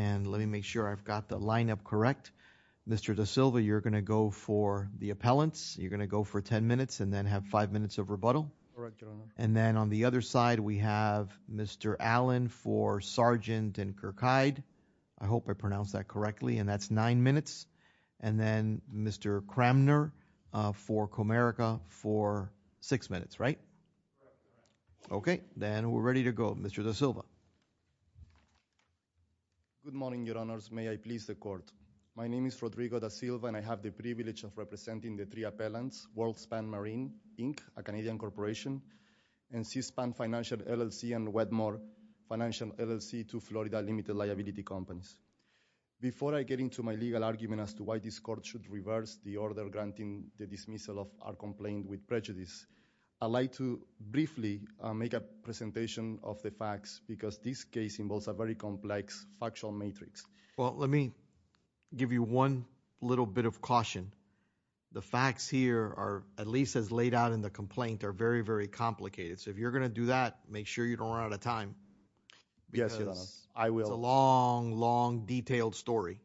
and let me make sure I've got the lineup correct. Mr. Da Silva, you're going to go for the appellants. You're going to go for ten minutes and then have five minutes of rebuttal. And then on the other side we have Mr. Allen for Sargent and Kirkide. I hope I pronounce that correctly and that's nine minutes. And then Mr. Kramner for Comerica for six minutes, right? Okay, then we're ready to go. Mr. Da Silva. Good morning, your honors. May I please the court. My name is Rodrigo Da Silva and I have the privilege of representing the three appellants, Worldspan Marine Inc., a Canadian corporation, and C-SPAN Financial LLC and Wetmore Financial LLC to Florida Limited Liability Companies. Before I get into my legal argument as to why this court should reverse the order granting the dismissal of our complaint with prejudice, I'd like to briefly make a presentation of the facts because this case involves a very complex factual matrix. Well, let me give you one little bit of caution. The facts here are at least as laid out in the complaint are very, very complicated. So if you're gonna do that, make sure you don't run out of time. Yes, your honors. I will. It's a long, long, detailed story.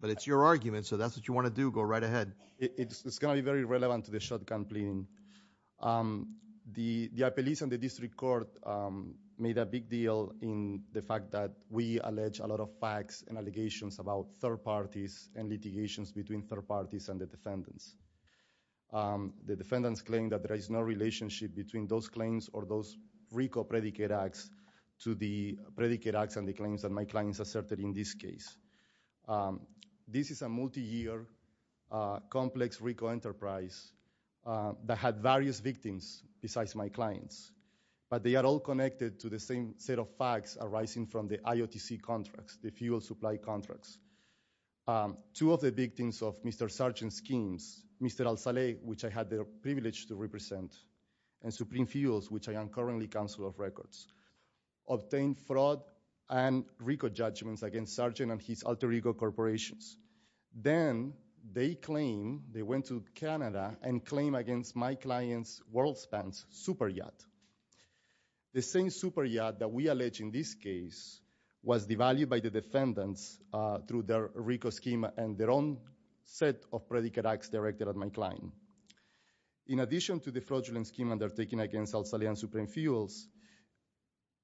But it's your argument, so that's what you want to do. Go right ahead. It's gonna be very relevant to the short complaint. The appellees and the district court made a big deal in the fact that we allege a lot of facts and allegations about third parties and litigations between third parties and the defendants. The relationship between those claims or those RICO predicate acts to the predicate acts and the claims that my clients asserted in this case. This is a multi-year complex RICO enterprise that had various victims besides my clients, but they are all connected to the same set of facts arising from the IOTC contracts, the fuel supply contracts. Two of the victims of Mr. Sargent's schemes, Mr. Al Saleh, which I had the privilege to represent, and Supreme Fuels, which I am currently counsel of records, obtained fraud and RICO judgments against Sargent and his alter ego corporations. Then they claim, they went to Canada and claim against my clients world spans super IOT. The same super IOT that we allege in this case was devalued by the defendants through their RICO scheme and their own set of predicate acts directed at my client. In addition to the fraudulent scheme undertaken against Al Saleh and Supreme Fuels,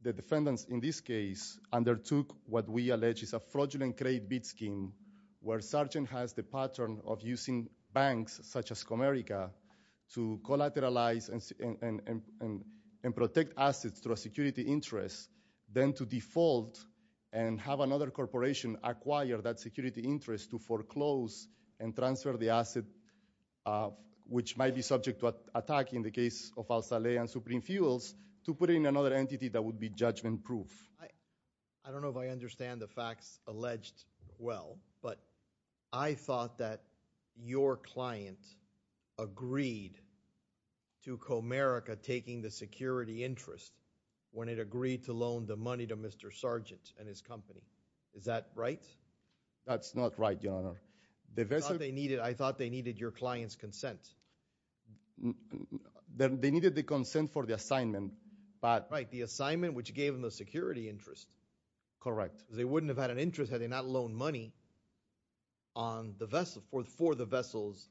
the defendants in this case undertook what we allege is a fraudulent trade bid scheme where Sargent has the pattern of using banks such as Comerica to collateralize and protect assets through a security interest, then to default and have another corporation acquire that security interest to foreclose and transfer the asset, which might be subject to attack in the case of Al Saleh and Supreme Fuels, to put in another entity that would be judgment proof. I don't know if I understand the facts alleged well, but I thought that your client agreed to Comerica taking the security interest when it agreed to loan the money to Mr. Sargent and his company. Is that right? That's not right, your honor. I thought they needed your client's consent. Then they needed the consent for the assignment. Right, the assignment which gave them the security interest. Correct. They wouldn't have had an interest had they not loaned money on the vessel for the vessels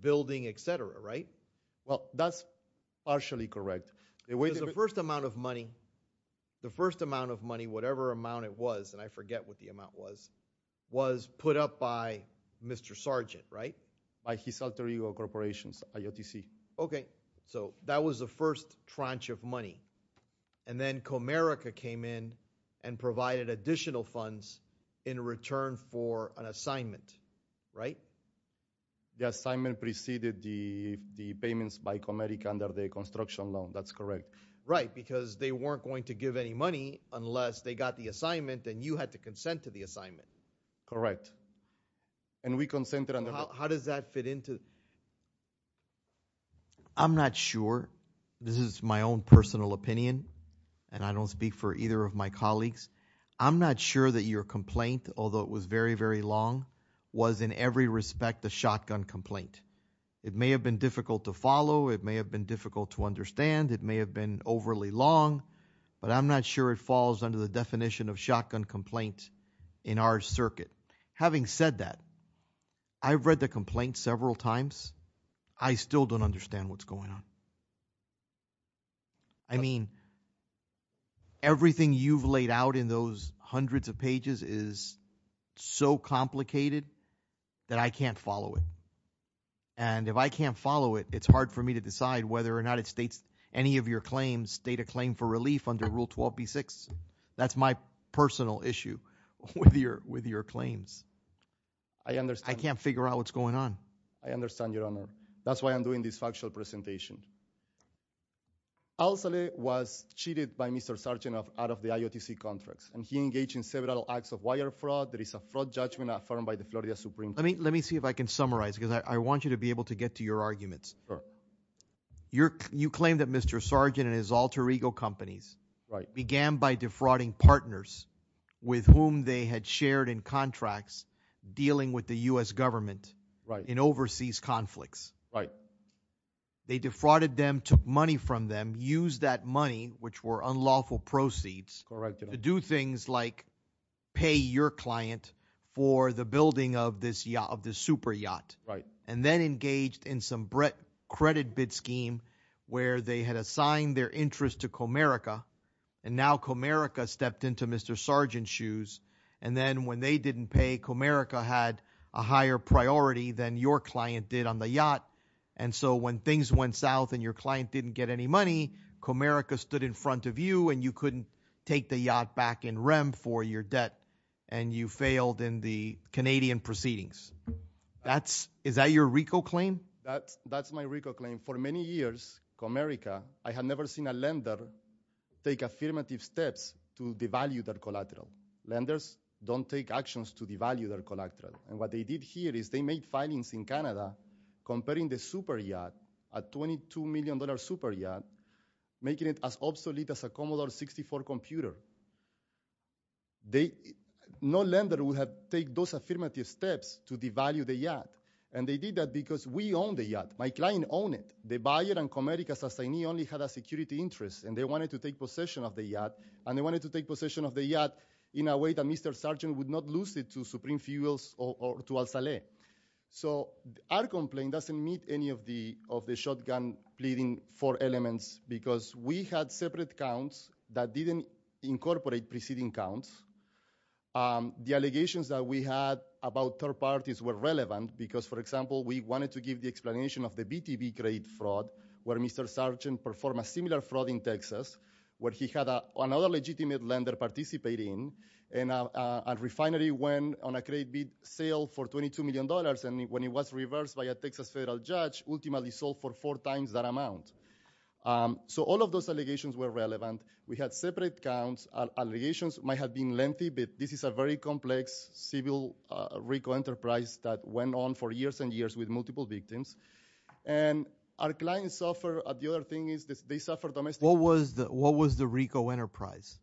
building, etc., right? Well, that's partially correct. The first amount of money, the first amount of money, whatever, amount it was, and I forget what the amount was, was put up by Mr. Sargent, right? By his alter ego corporations, IOTC. Okay, so that was the first tranche of money, and then Comerica came in and provided additional funds in return for an assignment, right? The assignment preceded the payments by Comerica under the construction loan, that's correct. Right, because they weren't going to give any money unless they got the assignment and you had to consent to the assignment. Correct, and we consented. How does that fit into? I'm not sure, this is my own personal opinion, and I don't speak for either of my colleagues. I'm not sure that your complaint, although it was very, very long, was in every respect a shotgun complaint. It may have been difficult to follow, it may have been overly long, but I'm not sure it falls under the definition of shotgun complaint in our circuit. Having said that, I've read the complaint several times, I still don't understand what's going on. I mean, everything you've laid out in those hundreds of pages is so complicated that I can't follow it, and if I can't follow it, it's hard for me to decide whether or not it states any of your claims state a claim for relief under Rule 12b-6. That's my personal issue with your claims. I understand. I can't figure out what's going on. I understand, Your Honor. That's why I'm doing this factual presentation. Alsaleh was cheated by Mr. Sargent out of the IOTC contracts, and he engaged in several acts of wire fraud. There is a fraud judgment affirmed by the Florida Supreme Court. Let me see if I can summarize, because I want you to be able to get to your arguments. You claim that Mr. Sargent and his alter-ego companies began by defrauding partners with whom they had shared in contracts dealing with the U.S. government in overseas conflicts. They defrauded them, took money from them, used that money, which were unlawful proceeds, to do things like pay your client for the building of this super yacht, and then engaged in some credit bid scheme where they had assigned their interest to Comerica, and now Comerica stepped into Mr. Sargent's shoes. And then when they didn't pay, Comerica had a higher priority than your client did on the yacht, and so when things went south and your client didn't get any money, Comerica stood in front of you, and you couldn't take the yacht back in REM for your debt, and you failed in the Canadian proceedings. Is that your RICO claim? That's my RICO claim. For many years, Comerica, I have never seen a lender take affirmative steps to devalue their collateral. Lenders don't take actions to devalue their collateral, and what they did here is they made filings in Canada comparing the super yacht, a 22 million dollar super yacht, making it as obsolete as a Commodore 64 computer. No lender would have taken those affirmative steps to devalue the yacht, and they did that because we own the yacht. My client owned it. The buyer and Comerica's assignee only had a security interest, and they wanted to take possession of the yacht, and they wanted to take possession of the yacht in a way that Mr. Sargent would not lose it to Supreme Fuels or to Al Saleh. So our complaint doesn't meet any of the requirements because we had separate counts that didn't incorporate preceding counts. The allegations that we had about third parties were relevant because, for example, we wanted to give the explanation of the BTB grade fraud, where Mr. Sargent performed a similar fraud in Texas, where he had another legitimate lender participate in, and a refinery went on a great big sale for 22 million dollars, and when it was reversed by a Texas federal judge, ultimately sold for four times that amount. So all of those allegations were relevant. We had separate counts. Allegations might have been lengthy, but this is a very complex civil RICO enterprise that went on for years and years with multiple victims, and our clients suffer. The other thing is they suffer domestically. What was the RICO enterprise?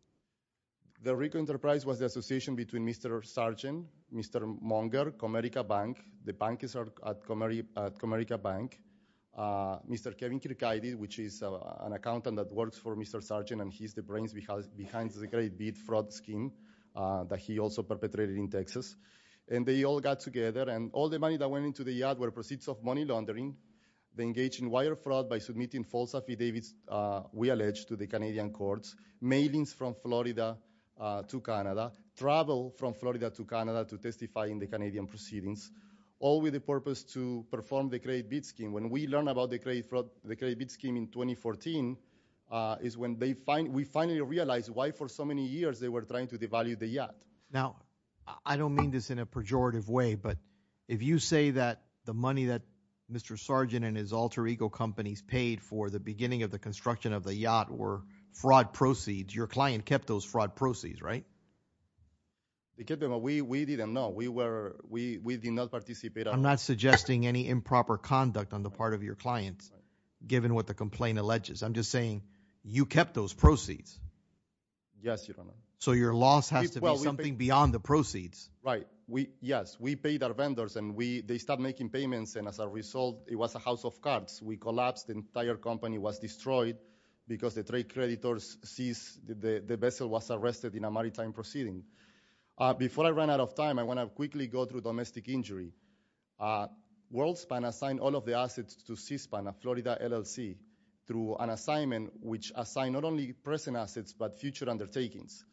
The RICO enterprise was the association between Mr. Sargent, Mr. Monger, Comerica Bank. The bank is at Comerica Bank. Mr. Kevin Kirkidee, which is an accountant that works for Mr. Sargent, and he's the brains behind the grade bid fraud scheme that he also perpetrated in Texas. And they all got together, and all the money that went into the ad were proceeds of money laundering. They engaged in wire fraud by submitting false affidavits, we allege, to the Canadian courts. Mailings from Florida to Canada. Travel from Florida to all with the purpose to perform the grade bid scheme. When we learn about the grade bid scheme in 2014 is when we finally realized why for so many years they were trying to devalue the yacht. Now, I don't mean this in a pejorative way, but if you say that the money that Mr. Sargent and his alter ego companies paid for the beginning of the construction of the yacht were fraud proceeds, your client kept those fraud proceeds, right? We kept them, but we didn't know. We were, we did not participate. I'm not suggesting any improper conduct on the part of your clients, given what the complaint alleges. I'm just saying, you kept those proceeds. Yes, Your Honor. So your loss has to be something beyond the proceeds. Right. We, yes, we paid our vendors, and we, they stopped making payments, and as a result, it was a house of cards. We collapsed, the entire company was destroyed, because the trade creditors seized, the vessel was arrested in a maritime proceeding. Before I run out of time, I want to quickly go through domestic injury. WorldSpan assigned all of the assets to C-SPAN, a Florida LLC, through an assignment which assigned not only present assets, but future undertakings.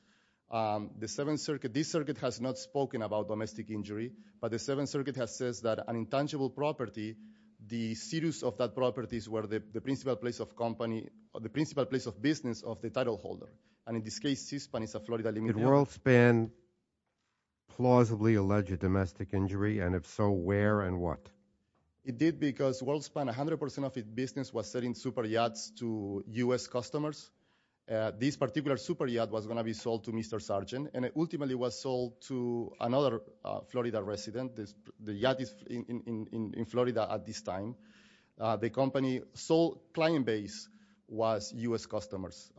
The Seventh Circuit, this circuit has not spoken about domestic injury, but the Seventh Circuit has says that an intangible property, the series of that properties were the principal place of company, or the principal place of business, of the title holder. And in this case, C-SPAN is a Florida LLC. Did WorldSpan plausibly allege a domestic injury, and if so, where and what? It did, because WorldSpan, 100% of its business was selling super yachts to US customers. This particular super yacht was going to be sold to Mr. Sargent, and it ultimately was sold to another Florida resident. The yacht is in Florida at this time. The company's sole client base was US customers.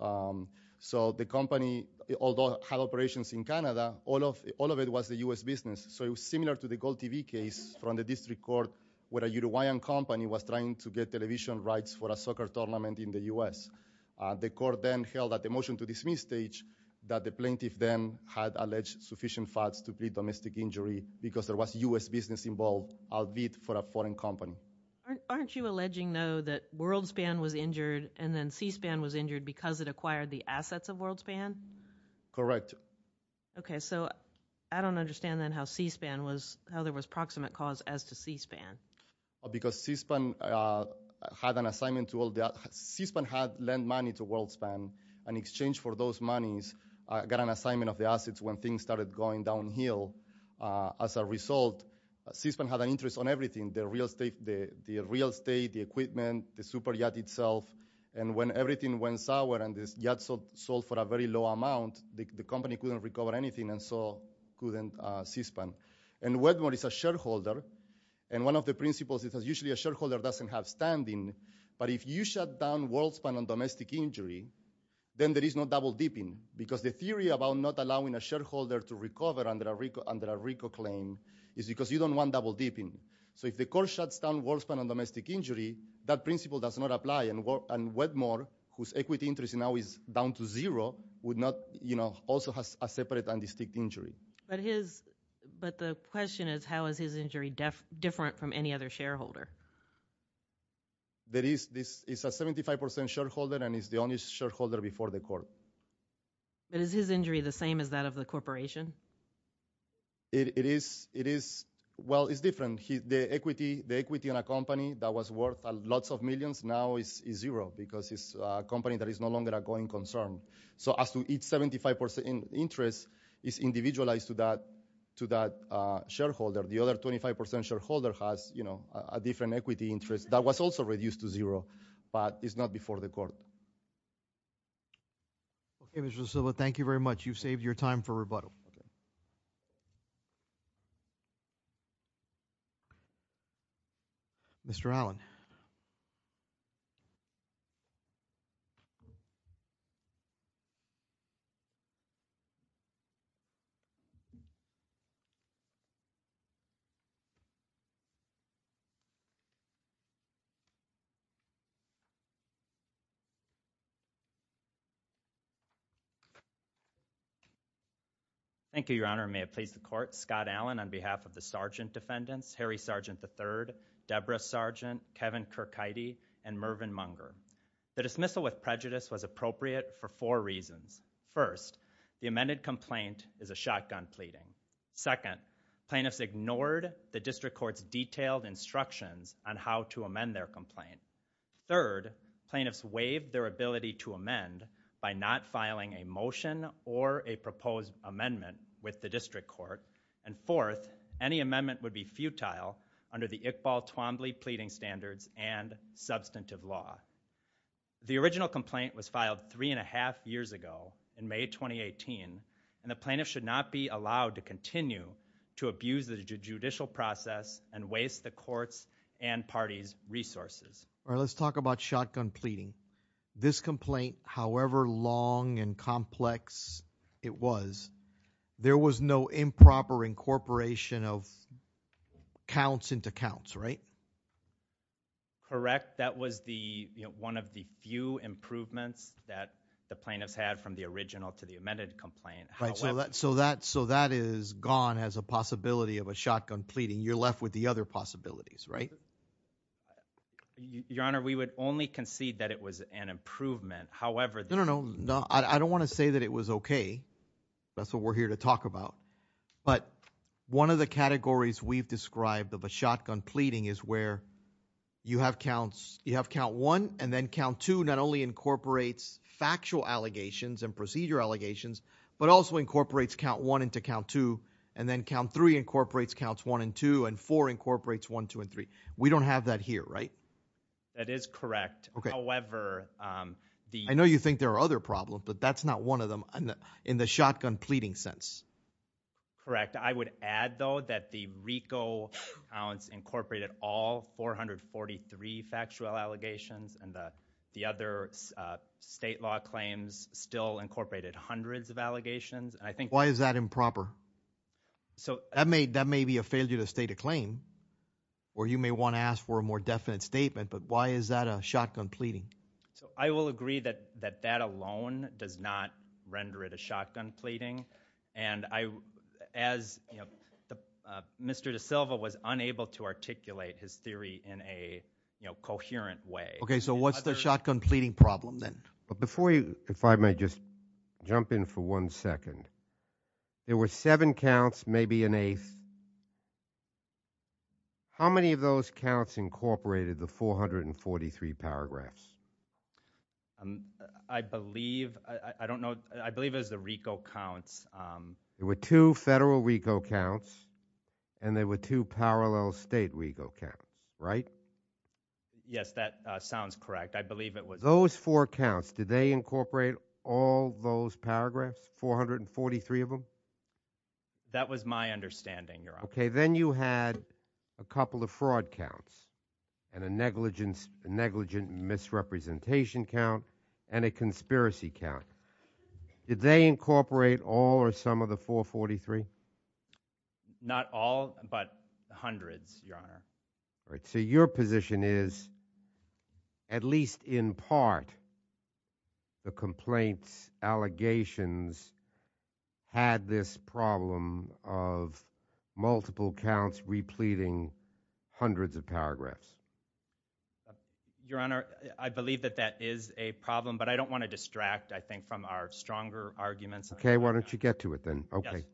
So the company, although had operations in Canada, all of it was the US business. So it was similar to the Gold TV case from the district court, where a Uruguayan company was trying to get television rights for a soccer tournament in the US. The court then held at the motion to dismiss stage that the plaintiff then had alleged sufficient facts to plead domestic injury, because there was US business involved, albeit for a foreign company. Aren't you alleging, though, that WorldSpan was injured, and then C-SPAN was injured because it acquired the assets of WorldSpan? Correct. Okay, so I don't understand then how C-SPAN was, how there was proximate cause as to C-SPAN. Because C-SPAN had an assignment to all that. C-SPAN had lent money to WorldSpan, and in exchange for those monies, got an assault. C-SPAN had an interest on everything, the real estate, the equipment, the superyacht itself. And when everything went sour, and this yacht sold for a very low amount, the company couldn't recover anything, and so couldn't C-SPAN. And Wedmore is a shareholder, and one of the principles is that usually a shareholder doesn't have standing. But if you shut down WorldSpan on domestic injury, then there is no double-dipping. Because the theory about not allowing a shareholder to recover under a RICO claim is because you don't want double-dipping. So if the court shuts down WorldSpan on domestic injury, that principle does not apply. And Wedmore, whose equity interest now is down to zero, would not, you know, also have a separate and distinct injury. But the question is, how is his injury different from any other shareholder? It's a 75% shareholder, and it's the same as that of the corporation? It is, well, it's different. The equity in a company that was worth lots of millions now is zero, because it's a company that is no longer a growing concern. So as to each 75% interest is individualized to that shareholder. The other 25% shareholder has, you know, a different equity interest that was also reduced to Mr. Allen. Thank you, Your Honor. May it please the court. Scott Allen on behalf of the sergeant defendants, Harry Sargent III, Deborah Sargent, Kevin Kirkheide, and Mervyn Munger. The dismissal with prejudice was appropriate for four reasons. First, the amended complaint is a shotgun pleading. Second, plaintiffs ignored the district court's detailed instructions on how to amend their complaint. Third, plaintiffs waived their ability to amend by not filing a motion or a proposed amendment with the district court. And fourth, any amendment would be futile under the Iqbal Twombly pleading standards and substantive law. The original complaint was filed three and a half years ago in May 2018, and the plaintiff should not be allowed to continue to abuse the judicial process and waste the court's and party's resources. All right, let's talk about it was, there was no improper incorporation of counts into counts, right? Correct. That was the, you know, one of the few improvements that the plaintiffs had from the original to the amended complaint. So that, so that, so that is gone as a possibility of a shotgun pleading. You're left with the other possibilities, right? Your Honor, we would only concede that it was an okay. That's what we're here to talk about. But one of the categories we've described of a shotgun pleading is where you have counts, you have count one and then count two not only incorporates factual allegations and procedure allegations, but also incorporates count one into count two, and then count three incorporates counts one and two, and four incorporates one, two, and three. We don't have that here, right? That is correct. Okay. However, I know you think there are other problems, but that's not one of them in the shotgun pleading sense. Correct. I would add, though, that the RICO counts incorporated all 443 factual allegations, and the other state law claims still incorporated hundreds of allegations, and I think... Why is that improper? So... That may, that may be a failure to state a claim, or you may want to ask for a more definite statement, but why is that a shotgun pleading? I will agree that that alone does not render it a shotgun pleading, and I, as you know, Mr. DaSilva was unable to articulate his theory in a, you know, coherent way. Okay, so what's the shotgun pleading problem then? But before you, if I might just jump in for one second, there were seven counts, maybe an eighth. How many of those counts incorporated the 443 paragraphs? I believe, I don't know, I believe it was the RICO counts. There were two federal RICO counts, and there were two parallel state RICO counts, right? Yes, that sounds correct. I believe it was... Those four counts, did they incorporate all those paragraphs, 443 of them? That was my understanding, Your Honor. Okay, then you had a couple of fraud counts, and a negligence, negligent misrepresentation count, and a conspiracy count. Did they incorporate all or some of the 443? Not all, but hundreds, Your Honor. All right, so your position is, at least in part, the complaint's allegations had this problem of multiple counts repleting hundreds of paragraphs. Your Honor, I believe that that is a problem, but I don't want to distract, I think, from our stronger arguments. Okay, why don't you get to it then? Okay.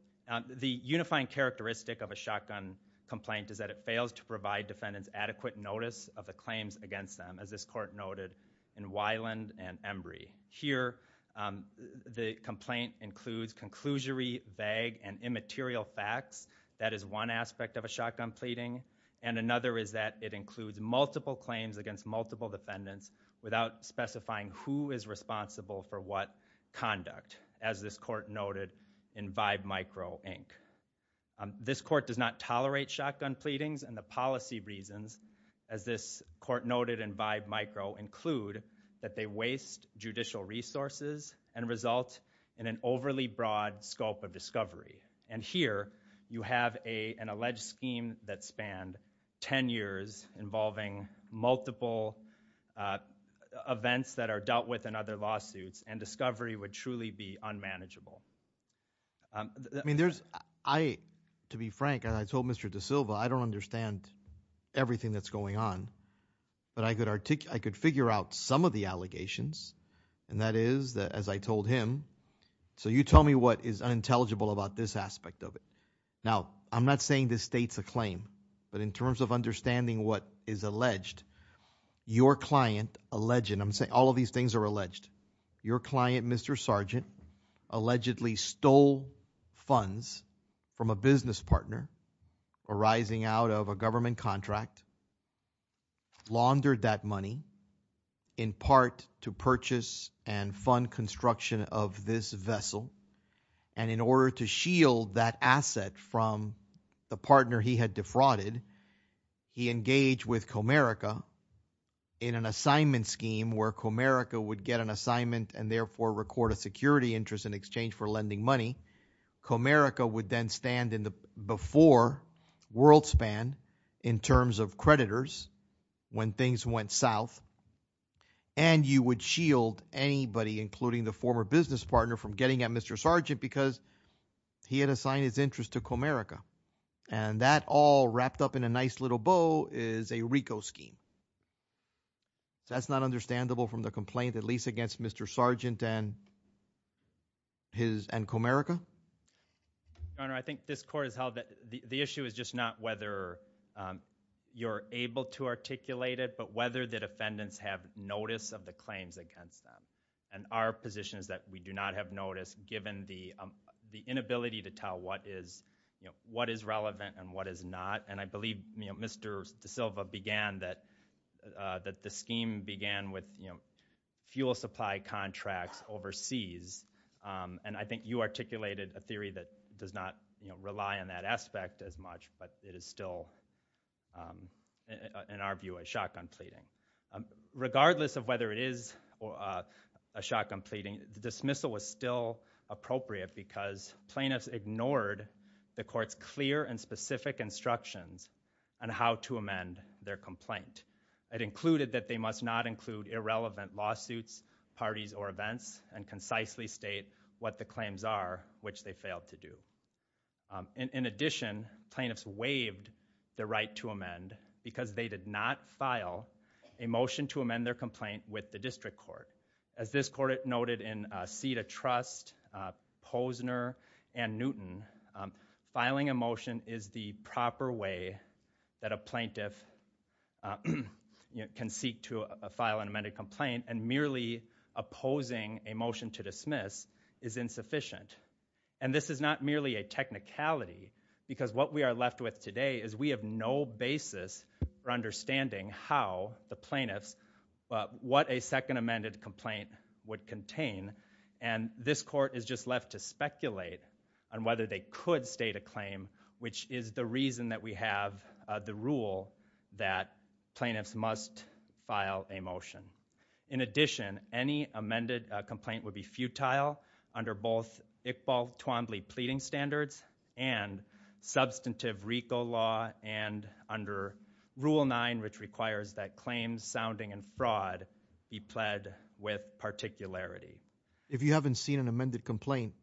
The unifying characteristic of a shotgun complaint is that it fails to provide defendants adequate notice of the claims against them, as this court noted in Weiland and Embry. Here, the complaint includes conclusory, vague, and immaterial facts. That is one aspect of a shotgun pleading, and another is that it includes multiple claims against multiple defendants without specifying who is responsible for what conduct, as this court noted in Vibe Micro, Inc. This court does not tolerate shotgun pleadings, and the policy reasons, as this include, that they waste judicial resources and result in an overly broad scope of discovery. And here, you have an alleged scheme that spanned 10 years involving multiple events that are dealt with in other lawsuits, and discovery would truly be unmanageable. I mean, there's, I, to be frank, and I told Mr. DaSilva, I don't understand everything that's going on, but I could articulate, I could figure out some of the allegations, and that is that, as I told him, so you tell me what is unintelligible about this aspect of it. Now, I'm not saying this states a claim, but in terms of understanding what is alleged, your client, alleged, I'm saying all of these things are alleged. Your client, Mr. Sargent, allegedly stole funds from a business partner arising out of a business in part to purchase and fund construction of this vessel, and in order to shield that asset from the partner he had defrauded, he engaged with Comerica in an assignment scheme where Comerica would get an assignment and therefore record a security interest in exchange for lending money. Comerica would then stand in the before world span in terms of creditors when things went south, and you would shield anybody, including the former business partner, from getting at Mr. Sargent because he had assigned his interest to Comerica, and that all wrapped up in a nice little bow is a RICO scheme. That's not understandable from the complaint, at least against Mr. Sargent and his, and Comerica? Your Honor, I think this Court has held that the issue is just not whether you're able to articulate it, but whether the defendants have notice of the claims against them, and our position is that we do not have notice given the inability to tell what is relevant and what is not, and I believe Mr. De Silva began that the scheme began with fuel supply contracts overseas, and I think you articulated a theory that does not rely on that aspect as much, but it is still, in our view, a shotgun pleading. Regardless of whether it is a shotgun pleading, the dismissal was still appropriate because plaintiffs ignored the Court's clear and specific instructions on how to amend their complaint. It included that they must not include irrelevant lawsuits, parties, or events, and concisely state what the claims are, which they failed to do. In addition, plaintiffs waived the right to amend because they did not file a motion to amend their complaint with the District Court. As this Court noted in Ceda Trust, Posner, and Newton, filing a motion in the proper way that a plaintiff can seek to file an amended complaint and merely opposing a motion to dismiss is insufficient. And this is not merely a technicality, because what we are left with today is we have no basis for understanding how the plaintiffs, what a second amended complaint would contain, and this Court is just left to speculate on whether they could state a claim, which is the reason that we have the rule that plaintiffs must file a motion. In addition, any amended complaint would be futile under both Iqbal Twombly pleading standards and substantive RICO law and under Rule 9, which requires that claims sounding in fraud be pled with particularity. If you haven't seen an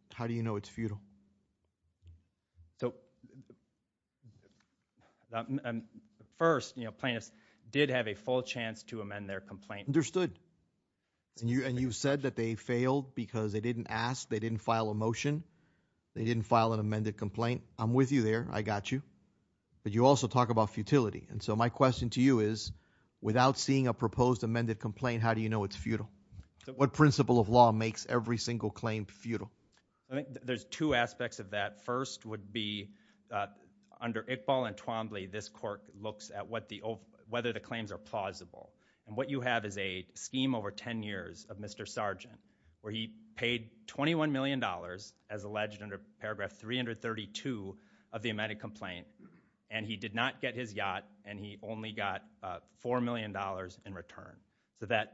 First, you know, plaintiffs did have a full chance to amend their complaint. Understood. And you said that they failed because they didn't ask, they didn't file a motion, they didn't file an amended complaint. I'm with you there, I got you. But you also talk about futility, and so my question to you is, without seeing a proposed amended complaint, how do you know it's futile? What principle of law makes every single claim futile? I think there's two aspects of that. First would be, under Iqbal and Twombly, this Court looks at what the, whether the claims are plausible. And what you have is a scheme over 10 years of Mr. Sargent, where he paid 21 million dollars, as alleged under paragraph 332 of the amended complaint, and he did not get his yacht, and he only got four million dollars in return. So that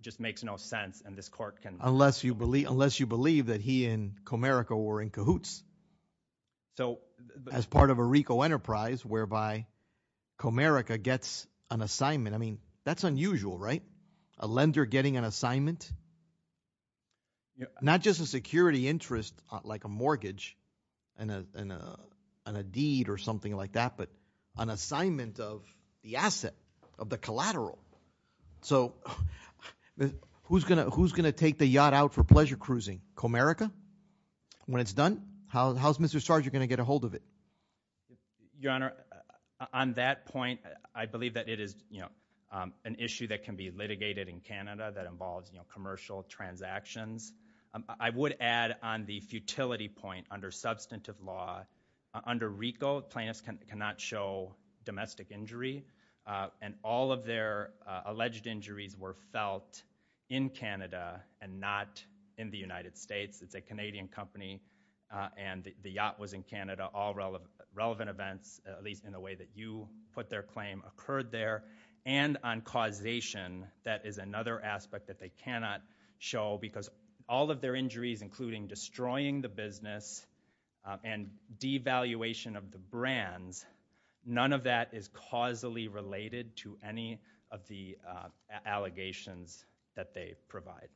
just makes no sense, and this Court can... Unless you believe that he and Comerica were in cahoots. So as part of a RICO enterprise, whereby Comerica gets an assignment. I mean, that's unusual, right? A lender getting an assignment? Not just a security interest, like a mortgage, and a deed or something like that, but an assignment of the asset, of the leisure cruising. Comerica, when it's done, how's Mr. Sargent going to get a hold of it? Your Honor, on that point, I believe that it is, you know, an issue that can be litigated in Canada that involves, you know, commercial transactions. I would add on the futility point, under substantive law, under RICO, plaintiffs cannot show domestic injury, and all of their alleged injuries were felt in Canada and not in the United States. It's a Canadian company, and the yacht was in Canada. All relevant events, at least in a way that you put their claim, occurred there. And on causation, that is another aspect that they cannot show, because all of their injuries, including destroying the business and devaluation of the brands, none of that is causally related to any of the allegations that they provide.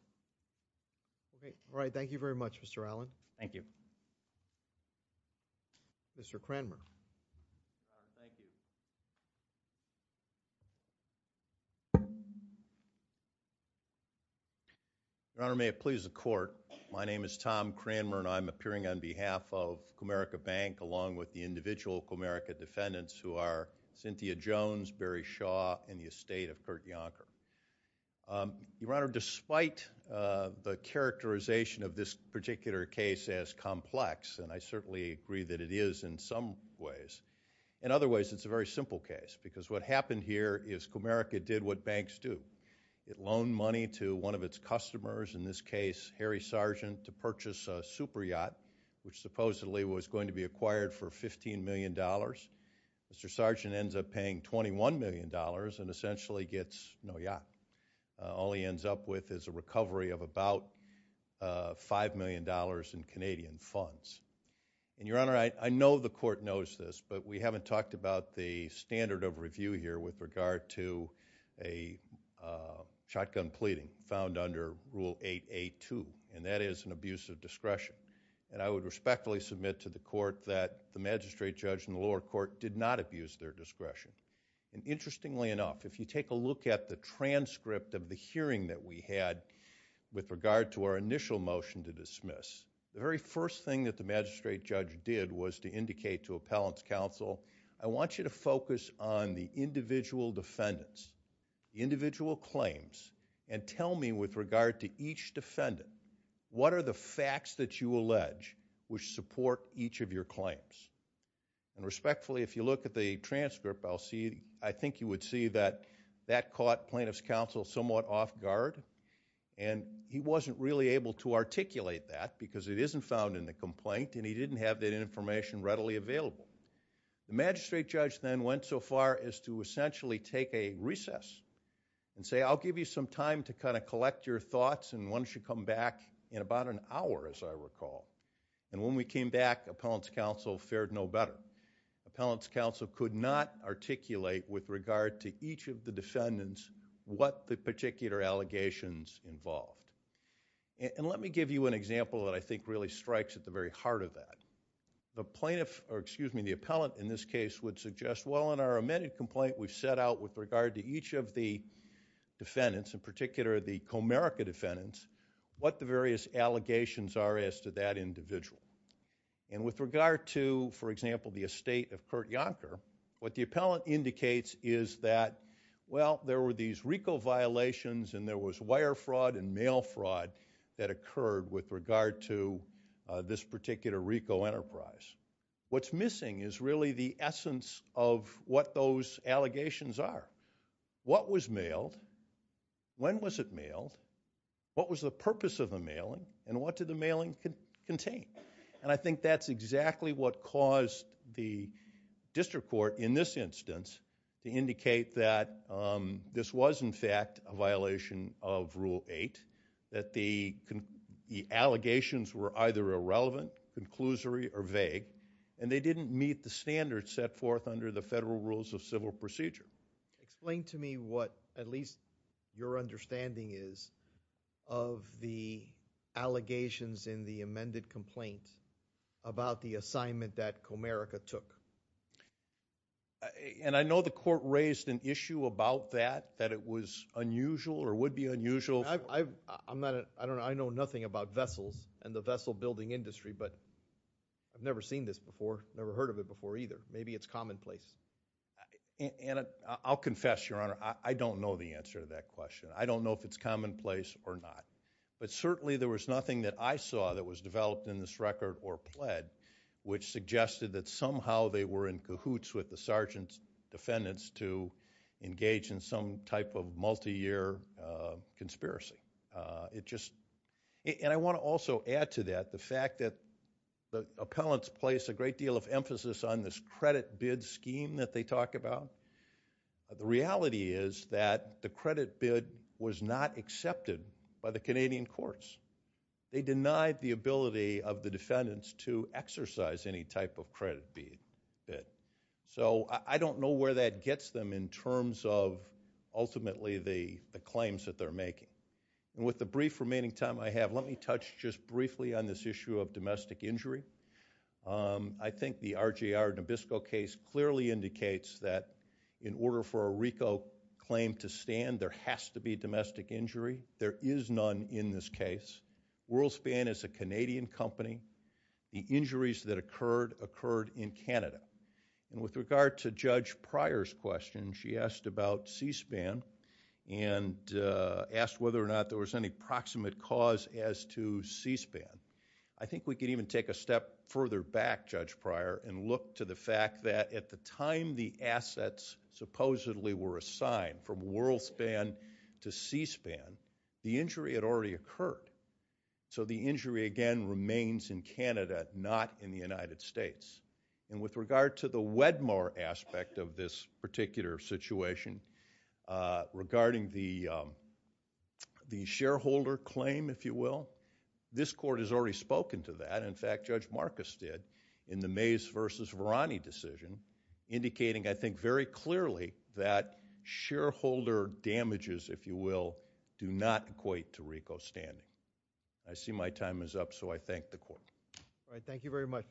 All right, thank you very much, Mr. Allen. Thank you. Mr. Cranmer. Your Honor, may it please the Court, my name is Tom Cranmer, and I'm appearing on behalf of Comerica Bank, along with the individual Comerica defendants, who are Your Honor, despite the characterization of this particular case as complex, and I certainly agree that it is in some ways, in other ways it's a very simple case, because what happened here is Comerica did what banks do. It loaned money to one of its customers, in this case Harry Sargent, to purchase a superyacht, which supposedly was going to be acquired for 15 million dollars. Mr. Sargent ends up with 21 million dollars, and essentially gets no yacht. All he ends up with is a recovery of about 5 million dollars in Canadian funds. And Your Honor, I know the Court knows this, but we haven't talked about the standard of review here with regard to a shotgun pleading found under Rule 8.8.2, and that is an abuse of discretion. And I would respectfully submit to the Court that the magistrate judge in the lower court did not abuse their discretion. And interestingly enough, if you take a look at the transcript of the hearing that we had with regard to our initial motion to dismiss, the very first thing that the magistrate judge did was to indicate to Appellants Council, I want you to focus on the individual defendants, the individual claims, and tell me with regard to each defendant, what are the facts that you allege which support each of your claims? And respectfully, if you look at the transcript, I think you would see that that caught Plaintiffs Council somewhat off guard, and he wasn't really able to articulate that because it isn't found in the complaint, and he didn't have that information readily available. The magistrate judge then went so far as to essentially take a recess and say, I'll give you some time to kind of collect your thoughts, and why don't you come back in about an hour, as I said, Appellants Council fared no better. Appellants Council could not articulate with regard to each of the defendants what the particular allegations involved. And let me give you an example that I think really strikes at the very heart of that. The plaintiff, or excuse me, the appellant in this case would suggest, well, in our amended complaint we've set out with regard to each of the defendants, in particular the Comerica defendants, what the various allegations are as to that individual. And with regard to, for example, the estate of Kurt Yonker, what the appellant indicates is that, well, there were these RICO violations and there was wire fraud and mail fraud that occurred with regard to this particular RICO enterprise. What's missing is really the essence of what those allegations are. What was mailed? When was it mailed? What was the purpose of the mailing? And what did the mailing contain? And I think that's exactly what caused the district court in this instance to indicate that this was, in fact, a violation of Rule 8, that the allegations were either irrelevant, conclusory, or vague, and they didn't meet the standards set forth under the federal rules of civil procedure. Explain to me what, at least your understanding is, of the allegations in the amended complaint about the assignment that Comerica took. And I know the court raised an issue about that, that it was unusual or would be unusual. I'm not, I don't know, I know nothing about vessels and the vessel building industry, but I've never seen this before, never heard of it before either. Maybe it's commonplace. And I'll confess, Your Honor, I don't have any answer to that question. I don't know if it's commonplace or not. But certainly there was nothing that I saw that was developed in this record or pled which suggested that somehow they were in cahoots with the sergeant's defendants to engage in some type of multi-year conspiracy. It just, and I want to also add to that the fact that the appellants place a great deal of emphasis on this credit bid scheme that they talk about. The reality is that the credit bid was not accepted by the Canadian courts. They denied the ability of the defendants to exercise any type of credit bid. So I don't know where that gets them in terms of ultimately the claims that they're making. With the brief remaining time I have, let me touch just briefly on this issue of domestic injury. I think the RJR Nabisco case clearly indicates that in there has to be domestic injury. There is none in this case. WorldSpan is a Canadian company. The injuries that occurred occurred in Canada. And with regard to Judge Pryor's question, she asked about C-SPAN and asked whether or not there was any proximate cause as to C-SPAN. I think we could even take a step further back, Judge Pryor, and look to the fact that at the time the assets supposedly were assigned from WorldSpan to C-SPAN, the injury had already occurred. So the injury again remains in Canada, not in the United States. And with regard to the Wedmore aspect of this particular situation, regarding the shareholder claim, if you will, this court has already spoken to that. In fact, Judge Marcus did in the Mays versus Verani decision indicating I think very clearly that shareholder damages, if you will, do not equate to RICO standing. I see my time is up, so I thank the court. All right. Thank you very much,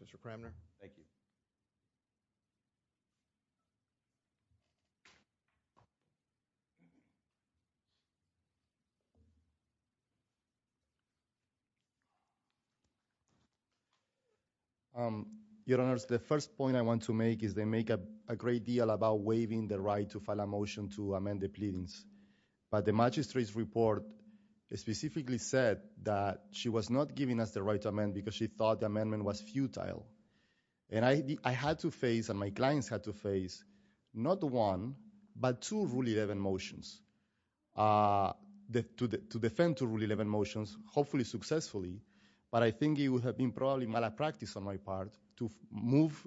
they make a great deal about waiving the right to file a motion to amend the pleadings. But the magistrate's report specifically said that she was not giving us the right to amend because she thought the amendment was futile. And I had to face, and my clients had to face, not one, but two Rule 11 motions to defend two Rule 11 motions, hopefully successfully. But I think it would have been probably malpractice on my part to move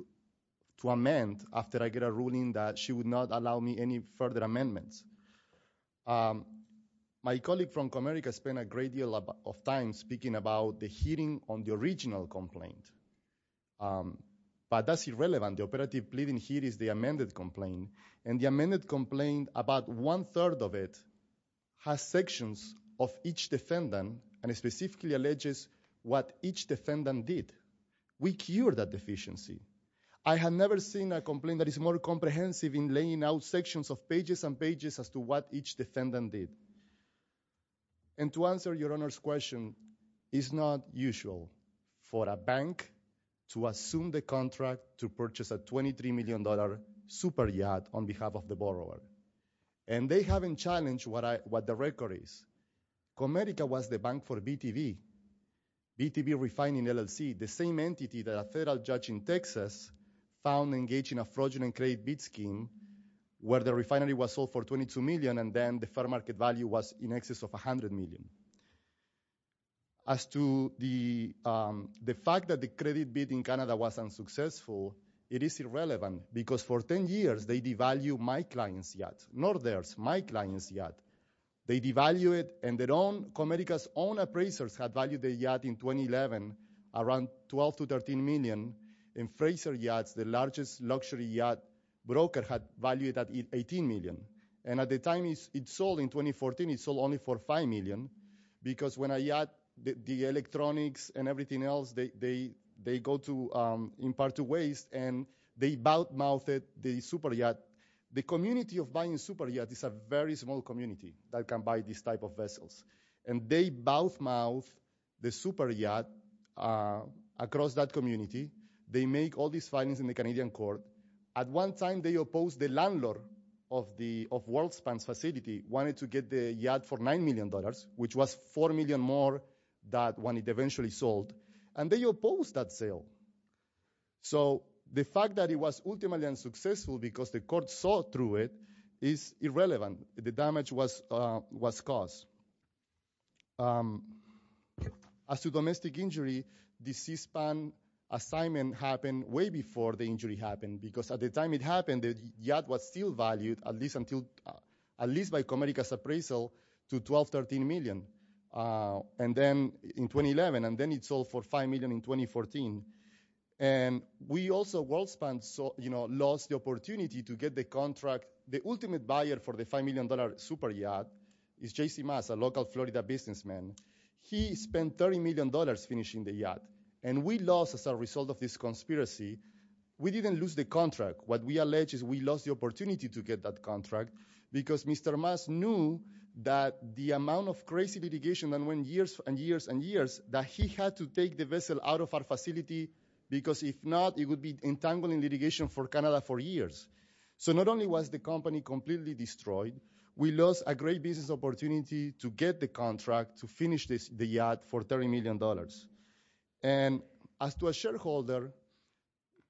to amend after I get a ruling that she would not allow me any further amendments. My colleague from Comerica spent a great deal of time speaking about the hearing on the original complaint. But that's irrelevant. The operative pleading here is the amended complaint. And the amended complaint, about one third of it, has sections of each defendant and specifically alleges what each defendant did. We cure that deficiency. I have never seen a complaint that is more comprehensive in laying out sections of pages and pages as to what each defendant did. And to answer your Honor's question, it's not usual for a bank to assume the contract to purchase a $23 million superyacht on behalf of the borrower. And they haven't challenged what the record is. Comerica was the bank for BTV, BTV Refining LLC, the same entity that a federal judge in Texas found engaged in a fraudulent credit bid scheme where the refinery was sold for $22 million and then the fair market value was in excess of $100 million. As to the fact that the credit bid in Canada was unsuccessful, it is irrelevant because for 10 years they devalued my client's yacht. They devalued it and Comerica's own appraisers had valued the yacht in 2011 around $12 to $13 million. And Fraser Yachts, the largest luxury yacht broker, had valued it at $18 million. And at the time it sold in 2014, it sold only for $5 million because when a yacht, the electronics and everything else, they go to, in part, to waste. And they mouthed the superyacht. The community of buying superyachts is a very small community that can buy this type of vessels. And they both mouthed the superyacht across that community. They make all these findings in the Canadian court. At one time they opposed the landlord of the of WorldSpan's facility, wanted to get the yacht for $9 million, which was $4 million more that when it eventually sold. And opposed that sale. So the fact that it was ultimately unsuccessful because the court saw through it is irrelevant. The damage was caused. As to domestic injury, the C-SPAN assignment happened way before the injury happened because at the time it happened, the yacht was still valued, at least by Comerica's appraisal, to $12 to $13 million. And then in 2011, and then it sold for $5 million in 2014. And we also, WorldSpan, lost the opportunity to get the contract. The ultimate buyer for the $5 million superyacht is J.C. Maas, a local Florida businessman. He spent $30 million finishing the yacht. And we lost as a result of this conspiracy. We didn't lose the contract. What we allege is we lost the opportunity to get that contract because Mr. Maas knew that the amount of crazy litigation that went years and years and years, that he had to take the vessel out of our facility because if not, it would be entangling litigation for Canada for years. So not only was the company completely destroyed, we lost a great business opportunity to get the contract to finish the $30 million. And as to a shareholder,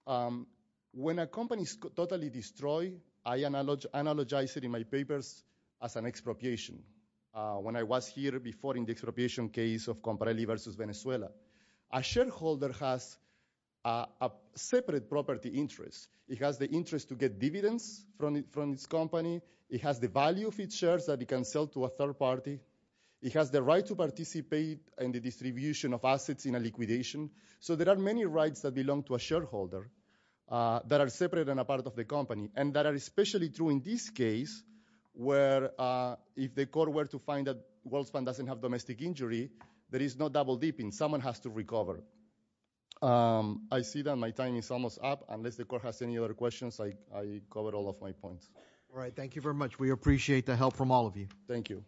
when a company is totally destroyed, I analogize it in my papers as an expropriation. When I was here before in the expropriation case of Comparelli versus Venezuela, a shareholder has a separate property interest. It has the interest to get dividends from its company. It has the value of its shares that it can sell to a third party. It has the right to participate in the distribution of assets in a liquidation. So there are many rights that belong to a shareholder that are separate and a part of the company. And that are especially true in this case, where if the court were to find that WorldSpan doesn't have domestic injury, there is no double-dipping. Someone has to recover. I see that my time is almost up. Unless the court has any other questions, I covered all of my points. All right. Thank you very much. We appreciate the help from all of you. Thank you.